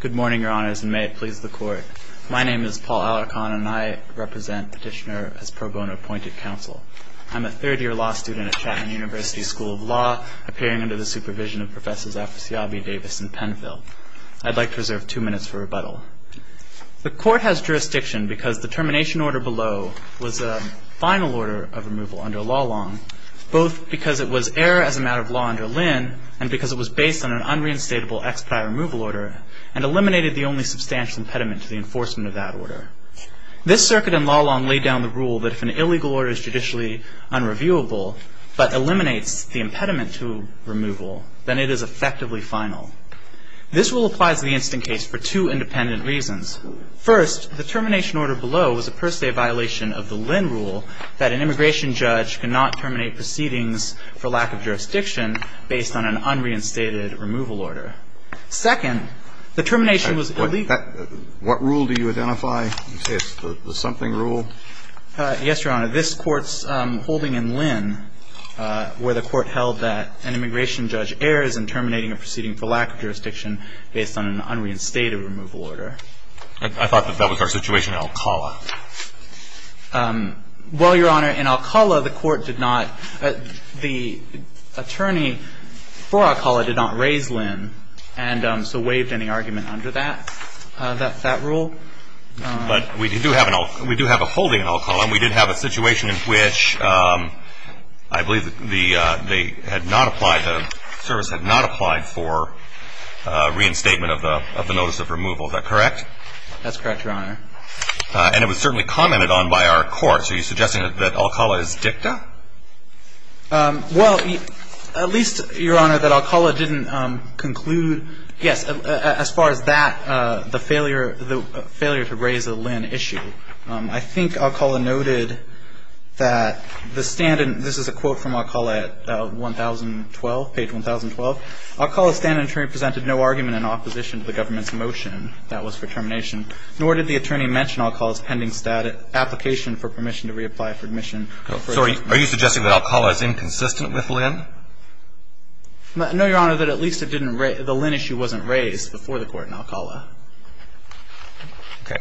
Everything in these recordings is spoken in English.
Good morning, Your Honors, and may it please the Court. My name is Paul Alarcon, and I represent Petitioner as pro bono appointed counsel. I'm a third year law student at Chatham University School of Law, appearing under the supervision of Professors Afsyabi, Davis, and Penfield. I'd like to reserve two minutes for rebuttal. The Court has jurisdiction because the termination order below was a final order of removal under law long, both because it was error as a matter of law under Lynn, and because it was based on an unreinstatable expedite removal order, and eliminated the only substantial impediment to the enforcement of that order. This circuit in law long laid down the rule that if an illegal order is judicially unreviewable, but eliminates the impediment to removal, then it is effectively final. This rule applies to the instant case for two independent reasons. First, the termination order below was a per se violation of the Lynn rule that an immigration judge cannot terminate proceedings for lack of jurisdiction based on an unreinstated removal order. Second, the termination was illegal. What rule do you identify? The something rule? Yes, Your Honor. This Court's holding in Lynn, where the Court held that an immigration judge errors in terminating a proceeding for lack of jurisdiction based on an unreinstated removal order. I thought that that was our situation in Alcala. Well, Your Honor, in Alcala, the Court did not, the attorney for Alcala did not raise Lynn, and so waived any argument under that rule. But we do have a holding in Alcala, and we did have a situation in which I believe they had not applied, the service had not applied for reinstatement of the notice of removal. Is that correct? That's correct, Your Honor. And it was certainly commented on by our courts. Are you suggesting that Alcala is dicta? Well, at least, Your Honor, that Alcala didn't conclude, yes, as far as that, the failure to raise a Lynn issue. I think Alcala noted that the stand in, this is a quote from Alcala at page 1,012. Alcala's stand in attorney presented no argument in opposition to the government's motion that was for termination, nor did the attorney mention Alcala's standing application for permission to reapply for admission. Sorry, are you suggesting that Alcala is inconsistent with Lynn? No, Your Honor, that at least the Lynn issue wasn't raised before the court in Alcala.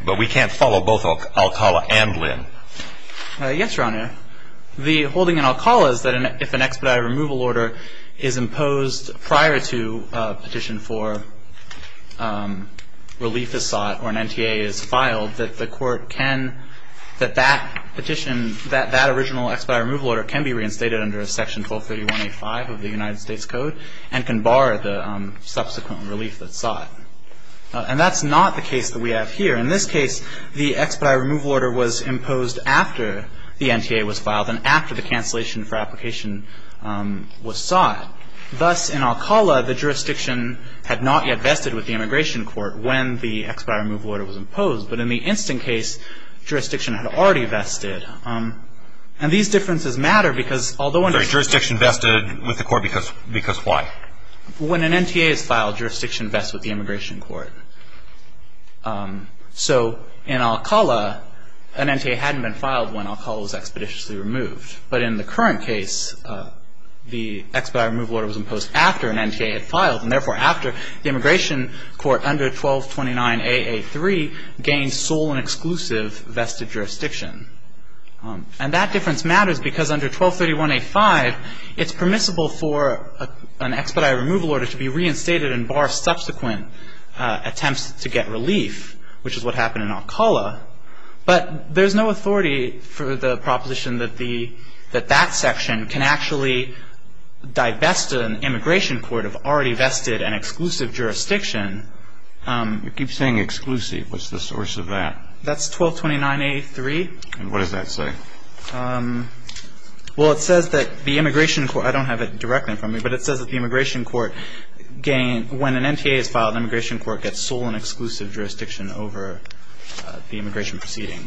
But we can't follow both Alcala and Lynn. Yes, Your Honor. The holding in Alcala is that if an expedited removal order is imposed prior to a petition for relief is sought, or an NTA is filed, that the court can, that that petition, that original expedited removal order can be reinstated under a section 1231A5 of the United States Code, and can bar the subsequent relief that's sought. And that's not the case that we have here. In this case, the expedited removal order was imposed after the NTA was filed, and after the cancellation for application was sought. Thus, in Alcala, the jurisdiction had not yet vested with the immigration court when the expedited removal order was imposed. But in the instant case, jurisdiction had already vested. And these differences matter, because although Jurisdiction vested with the court, because why? When an NTA is filed, jurisdiction vests with the immigration court. So in Alcala, an NTA hadn't been filed when Alcala was expeditiously removed. was imposed after an NTA had filed, and therefore, after the immigration court under 1229AA3 gained sole and exclusive vested jurisdiction. And that difference matters, because under 1231A5, it's permissible for an expedited removal order to be reinstated and bar subsequent attempts to get relief, which is what happened in Alcala. But there's no authority for the proposition that that section can actually divest an immigration court of already vested and exclusive jurisdiction. You keep saying exclusive. What's the source of that? That's 1229A3. And what does that say? Well, it says that the immigration court, I don't have it directly in front of me, but it says that the immigration court gained, when an NTA is filed, immigration court gets sole and exclusive jurisdiction over the immigration proceeding.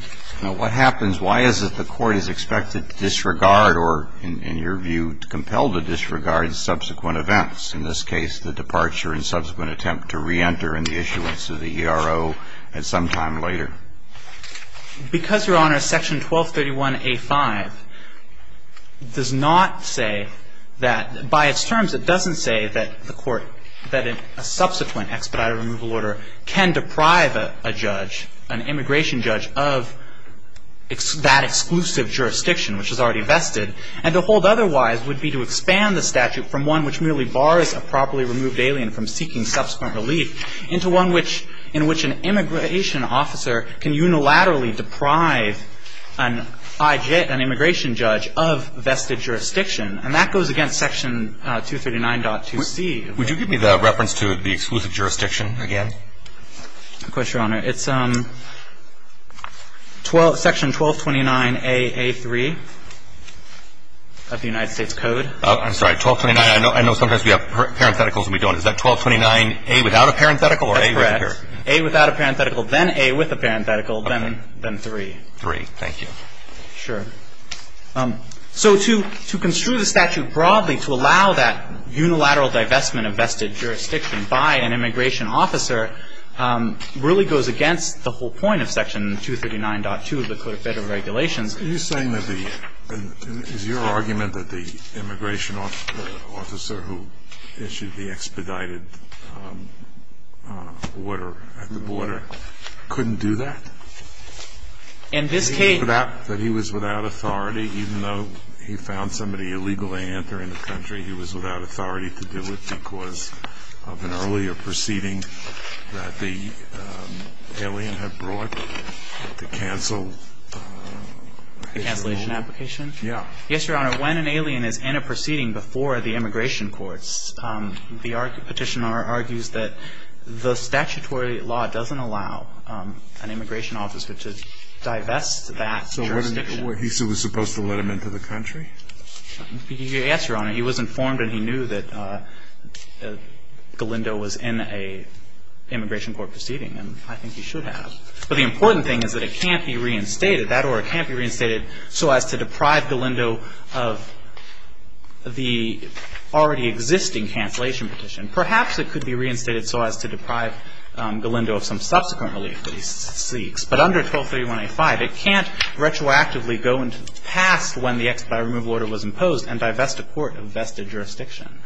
Now, what happens? Why is it the court is expected to disregard, or in your view, compelled to disregard subsequent events? In this case, the departure and subsequent attempt to re-enter in the issuance of the ERO at some time later. Because, Your Honor, section 1231A5 does not say that, by its terms, it doesn't say that a subsequent expedited removal order can deprive a judge, an immigration judge, of that exclusive jurisdiction, which is already vested. And to hold otherwise would be to expand the statute from one which merely bars a properly removed alien from seeking subsequent relief into one in which an immigration officer can unilaterally deprive an immigration judge of vested jurisdiction. And that goes against section 239.2c. Would you give me the reference to the exclusive jurisdiction again? Of course, Your Honor. It's section 1229AA3 of the United States Code. I'm sorry. 1229. I know sometimes we have parentheticals and we don't. Is that 1229A without a parenthetical? That's correct. A without a parenthetical, then A with a parenthetical, then three. Three, thank you. Sure. So to construe the statute broadly to allow that unilateral divestment of vested jurisdiction by an immigration officer really goes against the whole point of section 239.2 of the Code of Federal Regulations. Are you saying that the immigration officer who issued the expedited order at the border couldn't do that? In this case, that he was without authority, even though he found somebody illegally entering the country, he was without authority to do it because of an earlier proceeding that the alien had brought to cancel. The cancellation application? Yeah. Yes, Your Honor. When an alien is in a proceeding before the immigration courts, the petitioner argues that the statutory law doesn't allow an immigration officer to divest that jurisdiction. So he was supposed to let him into the country? Yes, Your Honor. He was informed and he knew that Galindo was in an immigration court proceeding, and I think he should have. But the important thing is that it can't be reinstated. That order can't be reinstated so as to deprive Galindo of the already existing cancellation petition. Perhaps it could be reinstated so as to deprive Galindo of some subsequent relief that he seeks. But under 1231A5, it can't retroactively go into the past when the expedited removal order was invested jurisdiction.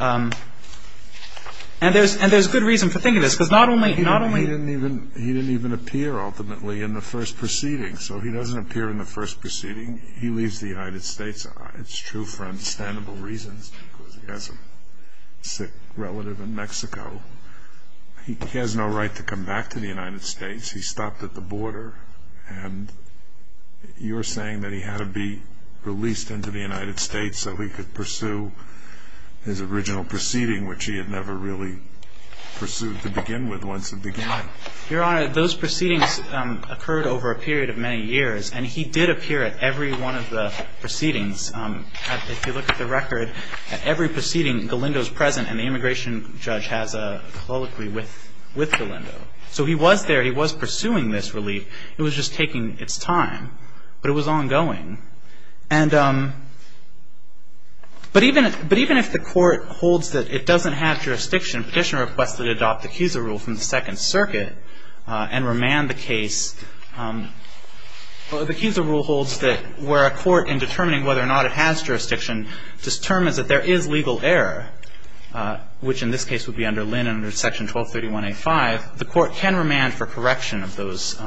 And there's good reason for thinking this, because not only- He didn't even appear, ultimately, in the first proceeding. So he doesn't appear in the first proceeding. He leaves the United States. It's true for understandable reasons, because he has a sick relative in Mexico. He has no right to come back to the United States. He stopped at the border, and you're saying that he had to be released into the United States so he could pursue his original proceeding, which he had never really pursued to begin with, once it began. Your Honor, those proceedings occurred over a period of many years. And he did appear at every one of the proceedings. If you look at the record, at every proceeding, Galindo's present, and the immigration judge has a colloquy with Galindo. So he was there. He was pursuing this relief. It was just taking its time, but it was ongoing. And but even if the court holds that it doesn't have jurisdiction, Petitioner requests that it adopt the CUSA rule from the Second Circuit and remand the case. The CUSA rule holds that where a court, in determining whether or not it has jurisdiction, determines that there is legal error, which in this case would be under Linn under Section 1231A5, the court can remand for correction of those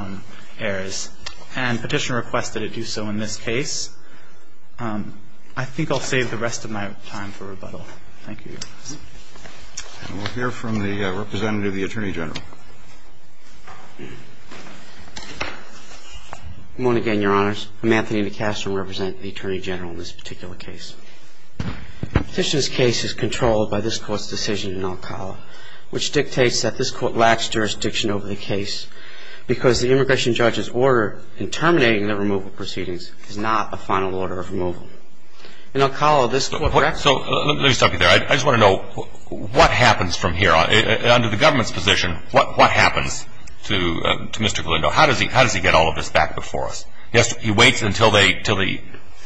errors. And Petitioner requested it do so in this case. I think I'll save the rest of my time for rebuttal. Thank you, Your Honor. And we'll hear from the representative of the Attorney General. Good morning again, Your Honors. I'm Anthony DeCastro, representing the Attorney General in this particular case. Petitioner's case is controlled by this court's decision in El Cala, which dictates that this court lacks jurisdiction over the case, because the immigration judge's order in terminating the removal proceedings is not a final order of removal. In El Cala, this court corrects it. So let me stop you there. I just want to know, what happens from here? Under the government's position, what happens to Mr. Galindo? How does he get all of this back before us? He waits until the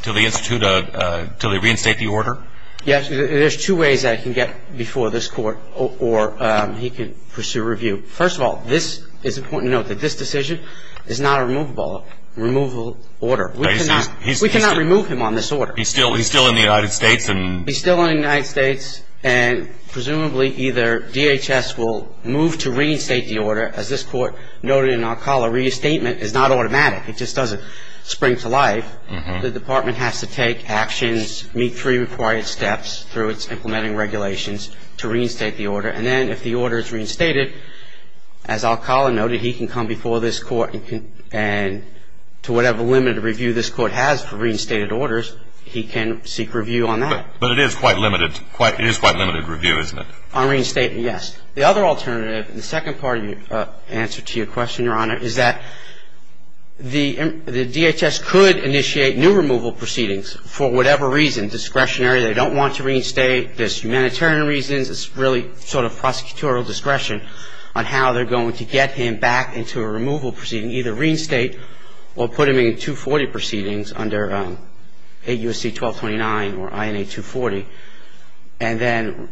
Institute, until they reinstate the order? Yes, there's two ways that it can get before this court, or he can pursue review. First of all, this is important to note, that this decision is not a removable order. We cannot remove him on this order. He's still in the United States? He's still in the United States. And presumably, either DHS will move to reinstate the order, as this court noted in El Cala, reinstatement is not automatic. It just doesn't spring to life. The department has to take actions, meet three required steps through its implementing regulations to reinstate the order. And then, if the order is reinstated, as El Cala noted, he can come before this court, and to whatever limited review this court has for reinstated orders, he can seek review on that. But it is quite limited. It is quite limited review, isn't it? On reinstatement, yes. The other alternative, and the second part of your answer to your question, Your Honor, is that the DHS could initiate new removal proceedings for whatever reason. Discretionary, they don't want to reinstate. There's humanitarian reasons. It's really sort of prosecutorial discretion on how they're going to get him back into a removal proceeding, either reinstate or put him in 240 proceedings under AUC 1229 or INA 240, and then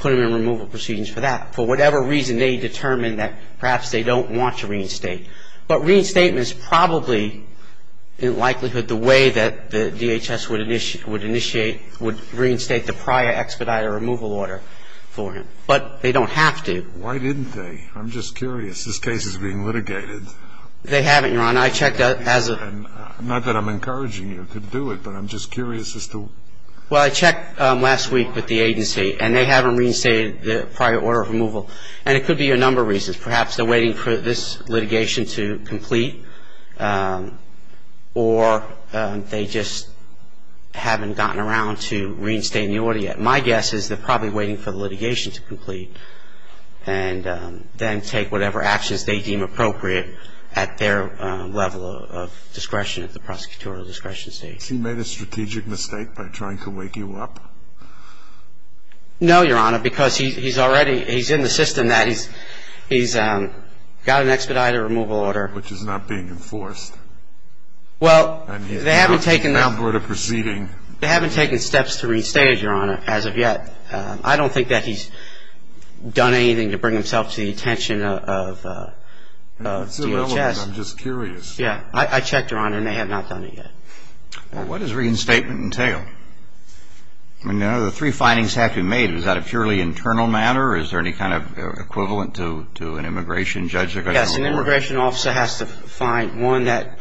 put him in removal proceedings for that. For whatever reason, they determine that perhaps they don't want to reinstate. But reinstatement is probably, in likelihood, the way that the DHS would initiate, would reinstate the prior expedited removal order for him. But they don't have to. Why didn't they? I'm just curious. This case is being litigated. They haven't, Your Honor. I checked as a- Not that I'm encouraging you to do it, but I'm just curious as to- Well, I checked last week with the agency, and they haven't reinstated the prior order of removal. And it could be a number of reasons. Perhaps they're waiting for this litigation to complete, or they just haven't gotten around to reinstating the order yet. My guess is they're probably waiting for the litigation to complete, and then take whatever actions they deem appropriate at their level of discretion, at the prosecutorial discretion stage. Has he made a strategic mistake by trying to wake you up? No, Your Honor, because he's already, he's in the system that he's got an expedited removal order- Well, they haven't taken steps to restate it, Your Honor, as of yet. I don't think that he's done anything to bring himself to the attention of DHS. I'm just curious. Yeah, I checked, Your Honor, and they have not done it yet. What does reinstatement entail? The three findings have to be made. Is that a purely internal matter? Is there any kind of equivalent to an immigration judge? Yes, an immigration officer has to find, one, that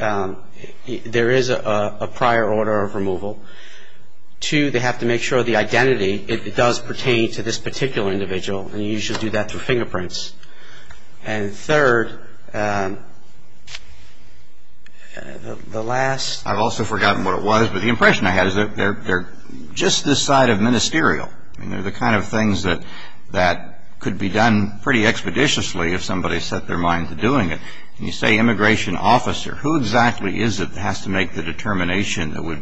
there is a prior order of removal. Two, they have to make sure the identity does pertain to this particular individual, and you usually do that through fingerprints. And third, the last- I've also forgotten what it was, but the impression I had is they're just this side of ministerial. They're the kind of things that could be done pretty expeditiously if somebody set their mind to doing it. And you say immigration officer. Who exactly is it that has to make the determination that would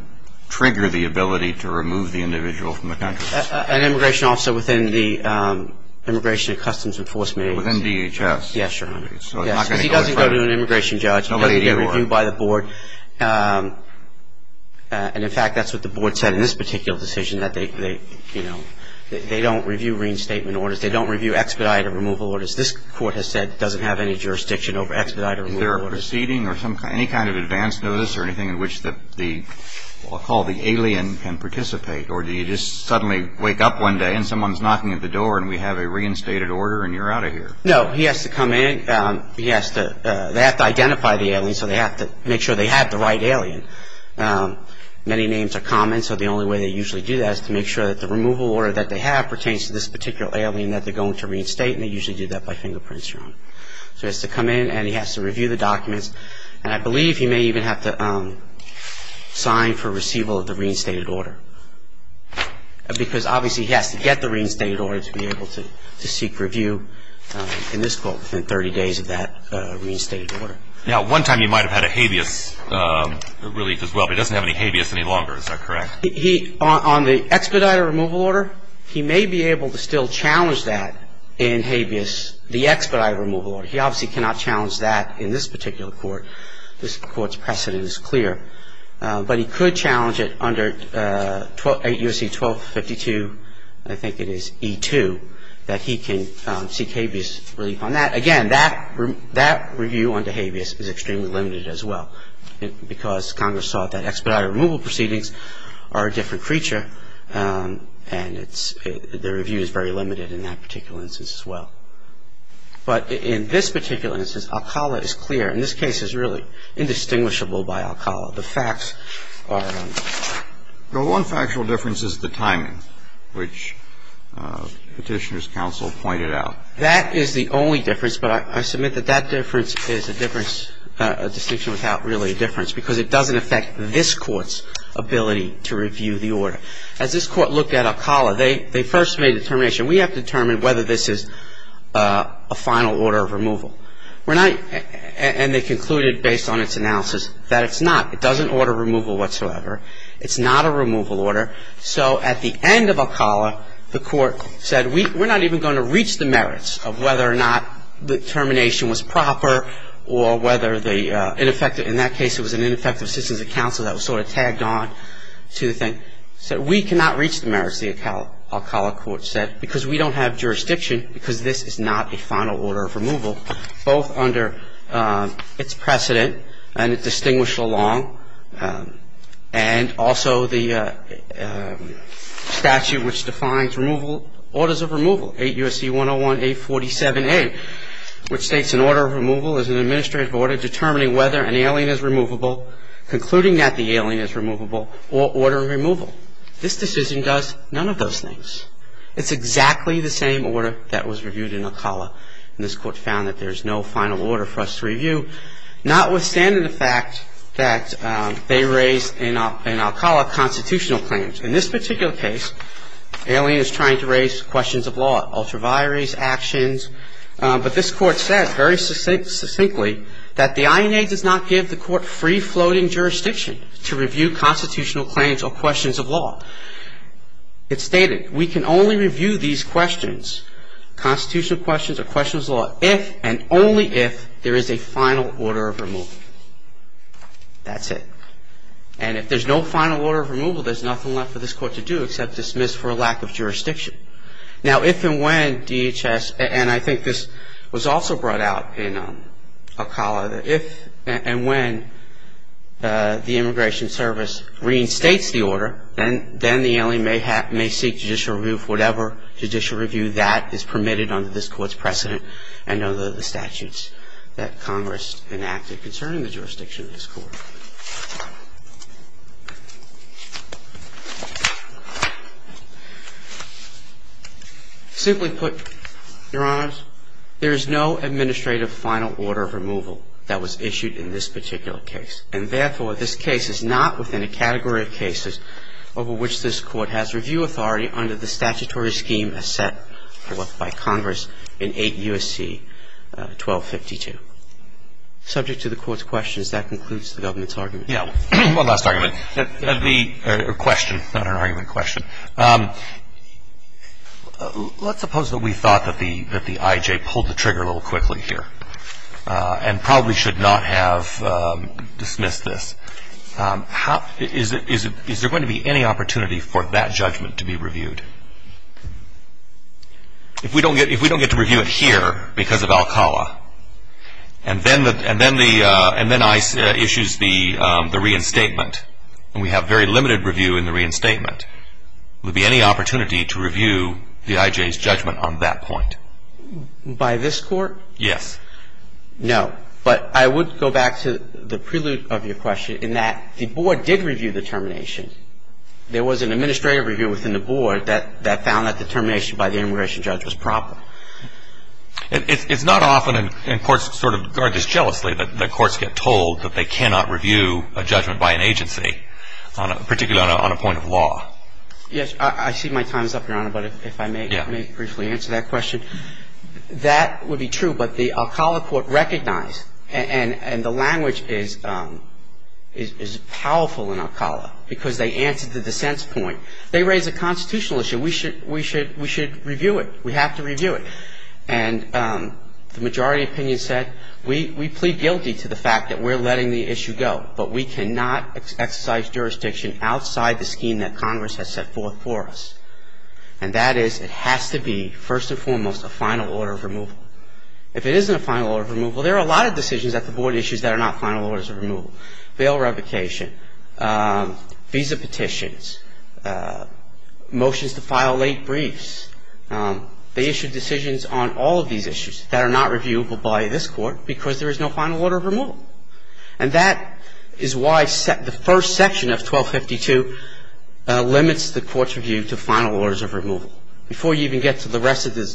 trigger the ability to remove the individual from the country? An immigration officer within the Immigration and Customs Enforcement- Within DHS. Yes, Your Honor. So they're not going to go to- Yes, because he doesn't go to an immigration judge. Nobody do you, Your Honor. He doesn't get reviewed by the board. And in fact, that's what the board said in this particular decision, that they don't review reinstatement orders. They don't review expedited removal orders. This Court has said it doesn't have any jurisdiction over expedited removal orders. Is there a proceeding or some kind- Any kind of advance notice or anything in which the- I'll call the alien can participate, or do you just suddenly wake up one day and someone's knocking at the door and we have a reinstated order and you're out of here? No. He has to come in. He has to- They have to identify the alien, so they have to make sure they have the right alien. Many names are common, so the only way they usually do that is to make sure that the removal order that they have pertains to this particular alien that they're going to reinstate, and they usually do that by fingerprints. So he has to come in and he has to review the documents, and I believe he may even have to sign for receival of the reinstated order, because obviously he has to get the reinstated order to be able to seek review in this Court within 30 days of that reinstated order. Now one time you might have had a habeas relief as well, but he doesn't have any habeas any longer. Is that correct? On the expedited removal order, he may be able to still challenge that in habeas, the expedited removal order. He obviously cannot challenge that in this particular Court. This Court's precedent is clear. But he could challenge it under 8 U.S.C. 1252, I think it is, E2, that he can seek habeas relief on that. Again, that review under habeas is extremely limited as well, because Congress thought that expedited removal proceedings are a different creature, and the review is very limited in that particular instance as well. But in this particular instance, Alcala is clear. In this case, it's really indistinguishable by Alcala. The facts are. The one factual difference is the timing, which Petitioner's counsel pointed out. That is the only difference, but I submit that that difference is a difference, a distinction without really a difference, because it doesn't affect this Court's ability to review the order. As this Court looked at Alcala, they first made a determination. We have to determine whether this is a final order of removal. We're not – and they concluded, based on its analysis, that it's not. It doesn't order removal whatsoever. It's not a removal order. So at the end of Alcala, the Court said we're not even going to reach the merits of whether or not the termination was proper or whether the ineffective In that case, it was an ineffective assistance of counsel that was sort of tagged on to the thing. It said we cannot reach the merits, the Alcala Court said, because we don't have jurisdiction, because this is not a final order of removal, both under its precedent and its distinguished law, and also the statute which defines removal, Orders of Removal, 8 U.S.C. 101-847-8, which states an order of removal is an administrative order determining whether an alien is removable, concluding that the alien is removable, or order of removal. This decision does none of those things. It's exactly the same order that was reviewed in Alcala, and this Court found that there's no final order for us to review, notwithstanding the fact that they raised in Alcala constitutional claims. In this particular case, alien is trying to raise questions of law, ultraviaries, actions, but this Court said very succinctly that the INA does not give the Court free-floating jurisdiction to review constitutional claims or questions of law. It stated we can only review these questions, constitutional questions or questions of law, if and only if there is a final order of removal. That's it. And if there's no final order of removal, there's nothing left for this Court to do except dismiss for a lack of jurisdiction. Now if and when DHS, and I think this was also brought out in Alcala, that if and when the Immigration Service reinstates the order, then the alien may seek judicial review for whatever judicial review that is permitted under this Court's precedent and under the Simply put, Your Honors, there is no administrative final order of removal that was issued in this particular case, and therefore, this case is not within a category of cases over which this Court has review authority under the statutory scheme as set forth by Congress in 8 U.S.C. 1252. Subject to the Court's questions, that concludes the government's argument. One last argument, or question, not an argument, a question. Let's suppose that we thought that the I.J. pulled the trigger a little quickly here and probably should not have dismissed this. Is there going to be any opportunity for that judgment to be reviewed? If we don't get to review it here because of Alcala, and then ICE issues the reinstatement, and we have very limited review in the reinstatement, will there be any opportunity to review the I.J.'s judgment on that point? By this Court? Yes. No. But I would go back to the prelude of your question in that the Board did review the termination. There was an administrative review within the Board that found that the termination by the immigration judge was proper. It's not often, and courts sort of guard this jealously, that courts get told that they cannot review a judgment by an agency, particularly on a point of law. I see my time is up, Your Honor, but if I may briefly answer that question. That would be true, but the Alcala Court recognized, and the language is powerful in Alcala because they answered the dissent's point. They raised a constitutional issue. We should review it. We have to review it, and the majority opinion said, we plead guilty to the fact that we're letting the issue go, but we cannot exercise jurisdiction outside the scheme that Congress has set forth for us, and that is it has to be, first and foremost, a final order of removal. If it isn't a final order of removal, there are a lot of decisions at the Board issues that are not final orders of removal, bail revocation, visa petitions, motions to file late briefs. They issued decisions on all of these issues that are not reviewable by this Court because there is no final order of removal, and that is why the first section of 1252 limits the Court's review to final orders of removal. Before you even get to the rest of the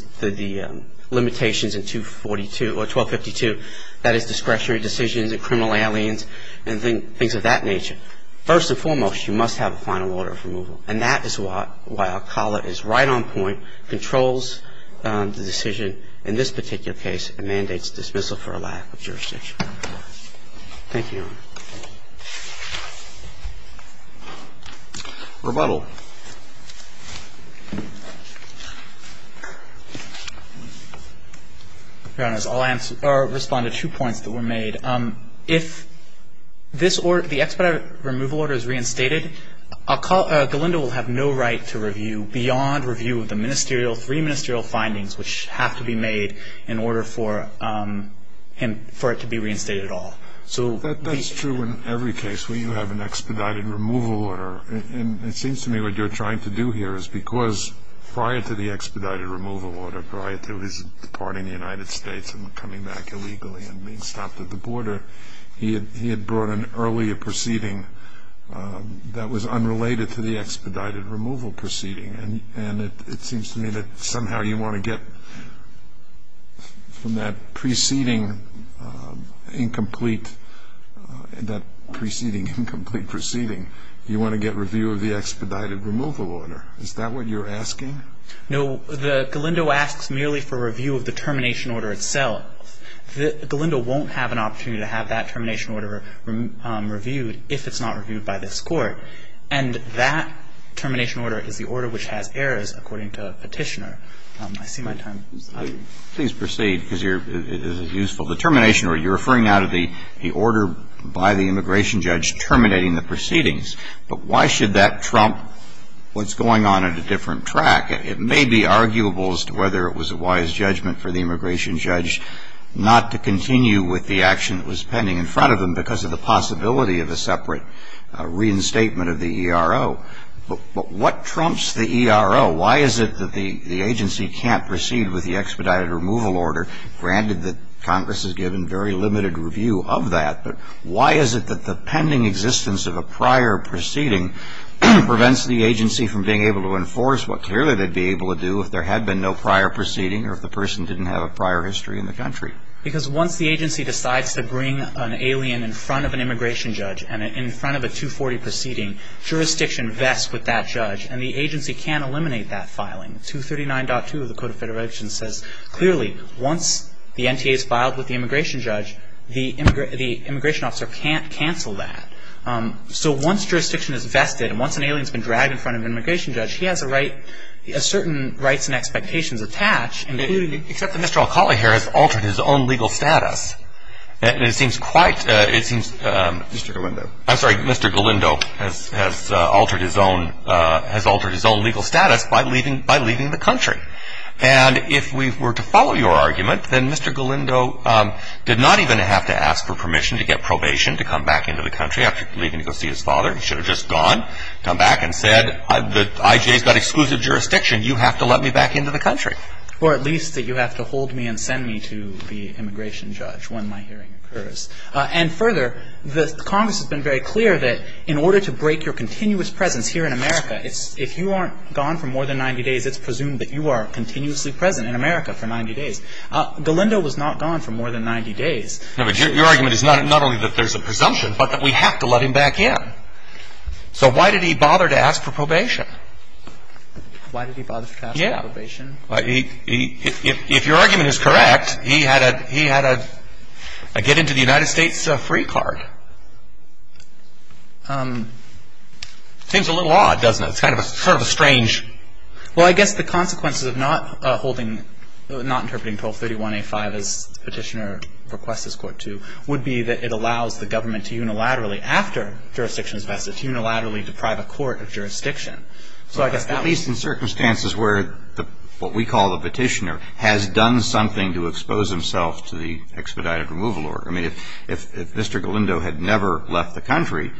limitations in 1252, that is discretionary decisions and criminal aliens and things of that nature, first and foremost, you must have a final order of removal, and that is why Alcala is right on point, controls the decision in this particular case, and mandates dismissal for a lack of jurisdiction. Thank you, Your Honor. Rebuttal. Your Honors, I'll respond to two points that were made. If this order, the expedited removal order is reinstated, Galindo will have no right to review beyond review of the three ministerial findings which have to be made in order for it to be reinstated at all. That is true in every case where you have an expedited removal order, and it seems to me what you're trying to do here is because prior to the expedited removal order, prior to his departing the United States and coming back illegally and being stopped at the border, he had brought an earlier proceeding that was unrelated to the expedited removal proceeding, and it seems to me that somehow you want to get from that preceding incomplete proceeding, you want to get review of the expedited removal order. Is that what you're asking? No. Galindo asks merely for review of the termination order itself. Galindo won't have an opportunity to have that termination order reviewed if it's not that the immigration judge has errors, according to Petitioner. I see my time is up. Please proceed, because it is a useful determination. You're referring now to the order by the immigration judge terminating the proceedings. But why should that trump what's going on at a different track? It may be arguable as to whether it was a wise judgment for the immigration judge not to continue with the action that was pending in front of him because of the possibility of a separate reinstatement of the ERO. But what trumps the ERO? Why is it that the agency can't proceed with the expedited removal order, granted that Congress has given very limited review of that, but why is it that the pending existence of a prior proceeding prevents the agency from being able to enforce what clearly they'd be able to do if there had been no prior proceeding or if the person didn't have a prior history in the country? Because once the agency decides to bring an alien in front of an immigration judge and in front of a 240 proceeding, jurisdiction vests with that judge, and the agency can't eliminate that filing. 239.2 of the Code of Federation says clearly once the NTA is filed with the immigration judge, the immigration officer can't cancel that. So once jurisdiction is vested and once an alien has been dragged in front of an immigration judge, he has a right, a certain rights and expectations attached, including the --. Except that Mr. Alcala here has altered his own legal status. And it seems quite, it seems Mr. Galindo, I'm sorry, Mr. Galindo has altered his own legal status by leaving the country. And if we were to follow your argument, then Mr. Galindo did not even have to ask for permission to get probation to come back into the country after leaving to go see his father. He should have just gone, come back and said, the IJ's got exclusive jurisdiction. You have to let me back into the country. Or at least that you have to hold me and send me to the immigration judge when my hearing occurs. And further, the Congress has been very clear that in order to break your continuous presence here in America, it's, if you aren't gone for more than 90 days, it's presumed that you are continuously present in America for 90 days. Galindo was not gone for more than 90 days. No, but your argument is not only that there's a presumption, but that we have to let him back in. Why did he bother to ask for probation? If your argument is correct, he had a get into the United States free card. Seems a little odd, doesn't it? It's kind of a sort of a strange. Well, I guess the consequences of not holding, not interpreting 1231A5 as Petitioner requests this Court to, would be that it allows the government to unilaterally after jurisdiction is vested, to unilaterally deprive a court of jurisdiction. At least in circumstances where what we call the Petitioner has done something to expose himself to the expedited removal order. I mean, if Mr. Galindo had never left the country,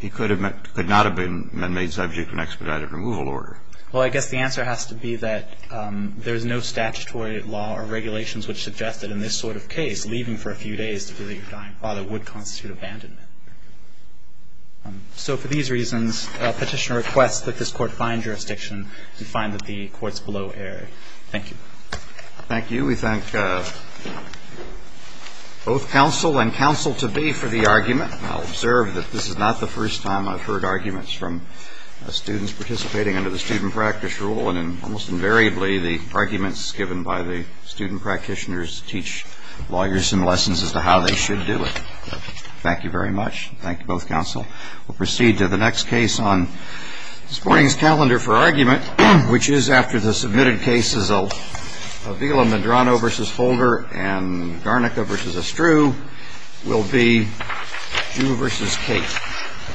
he could not have been made subject to an expedited removal order. Well, I guess the answer has to be that there's no statutory law or regulations which suggest that in this sort of case, leaving for a few days to feel that you're dying father would constitute abandonment. So for these reasons, Petitioner requests that this Court find jurisdiction and find that the Court's below air. Thank you. Thank you. We thank both counsel and counsel-to-be for the argument. I'll observe that this is not the first time I've heard arguments from students participating under the student practice rule, and almost invariably, the arguments given by the student practitioners teach lawyers some lessons as to how they should do it. Thank you very much. Thank you, both counsel. We'll proceed to the next case on this morning's calendar for argument, which is after the submitted cases of Avila-Medrano v. Holder and Garnica v. Estru will be Jew v. Kate.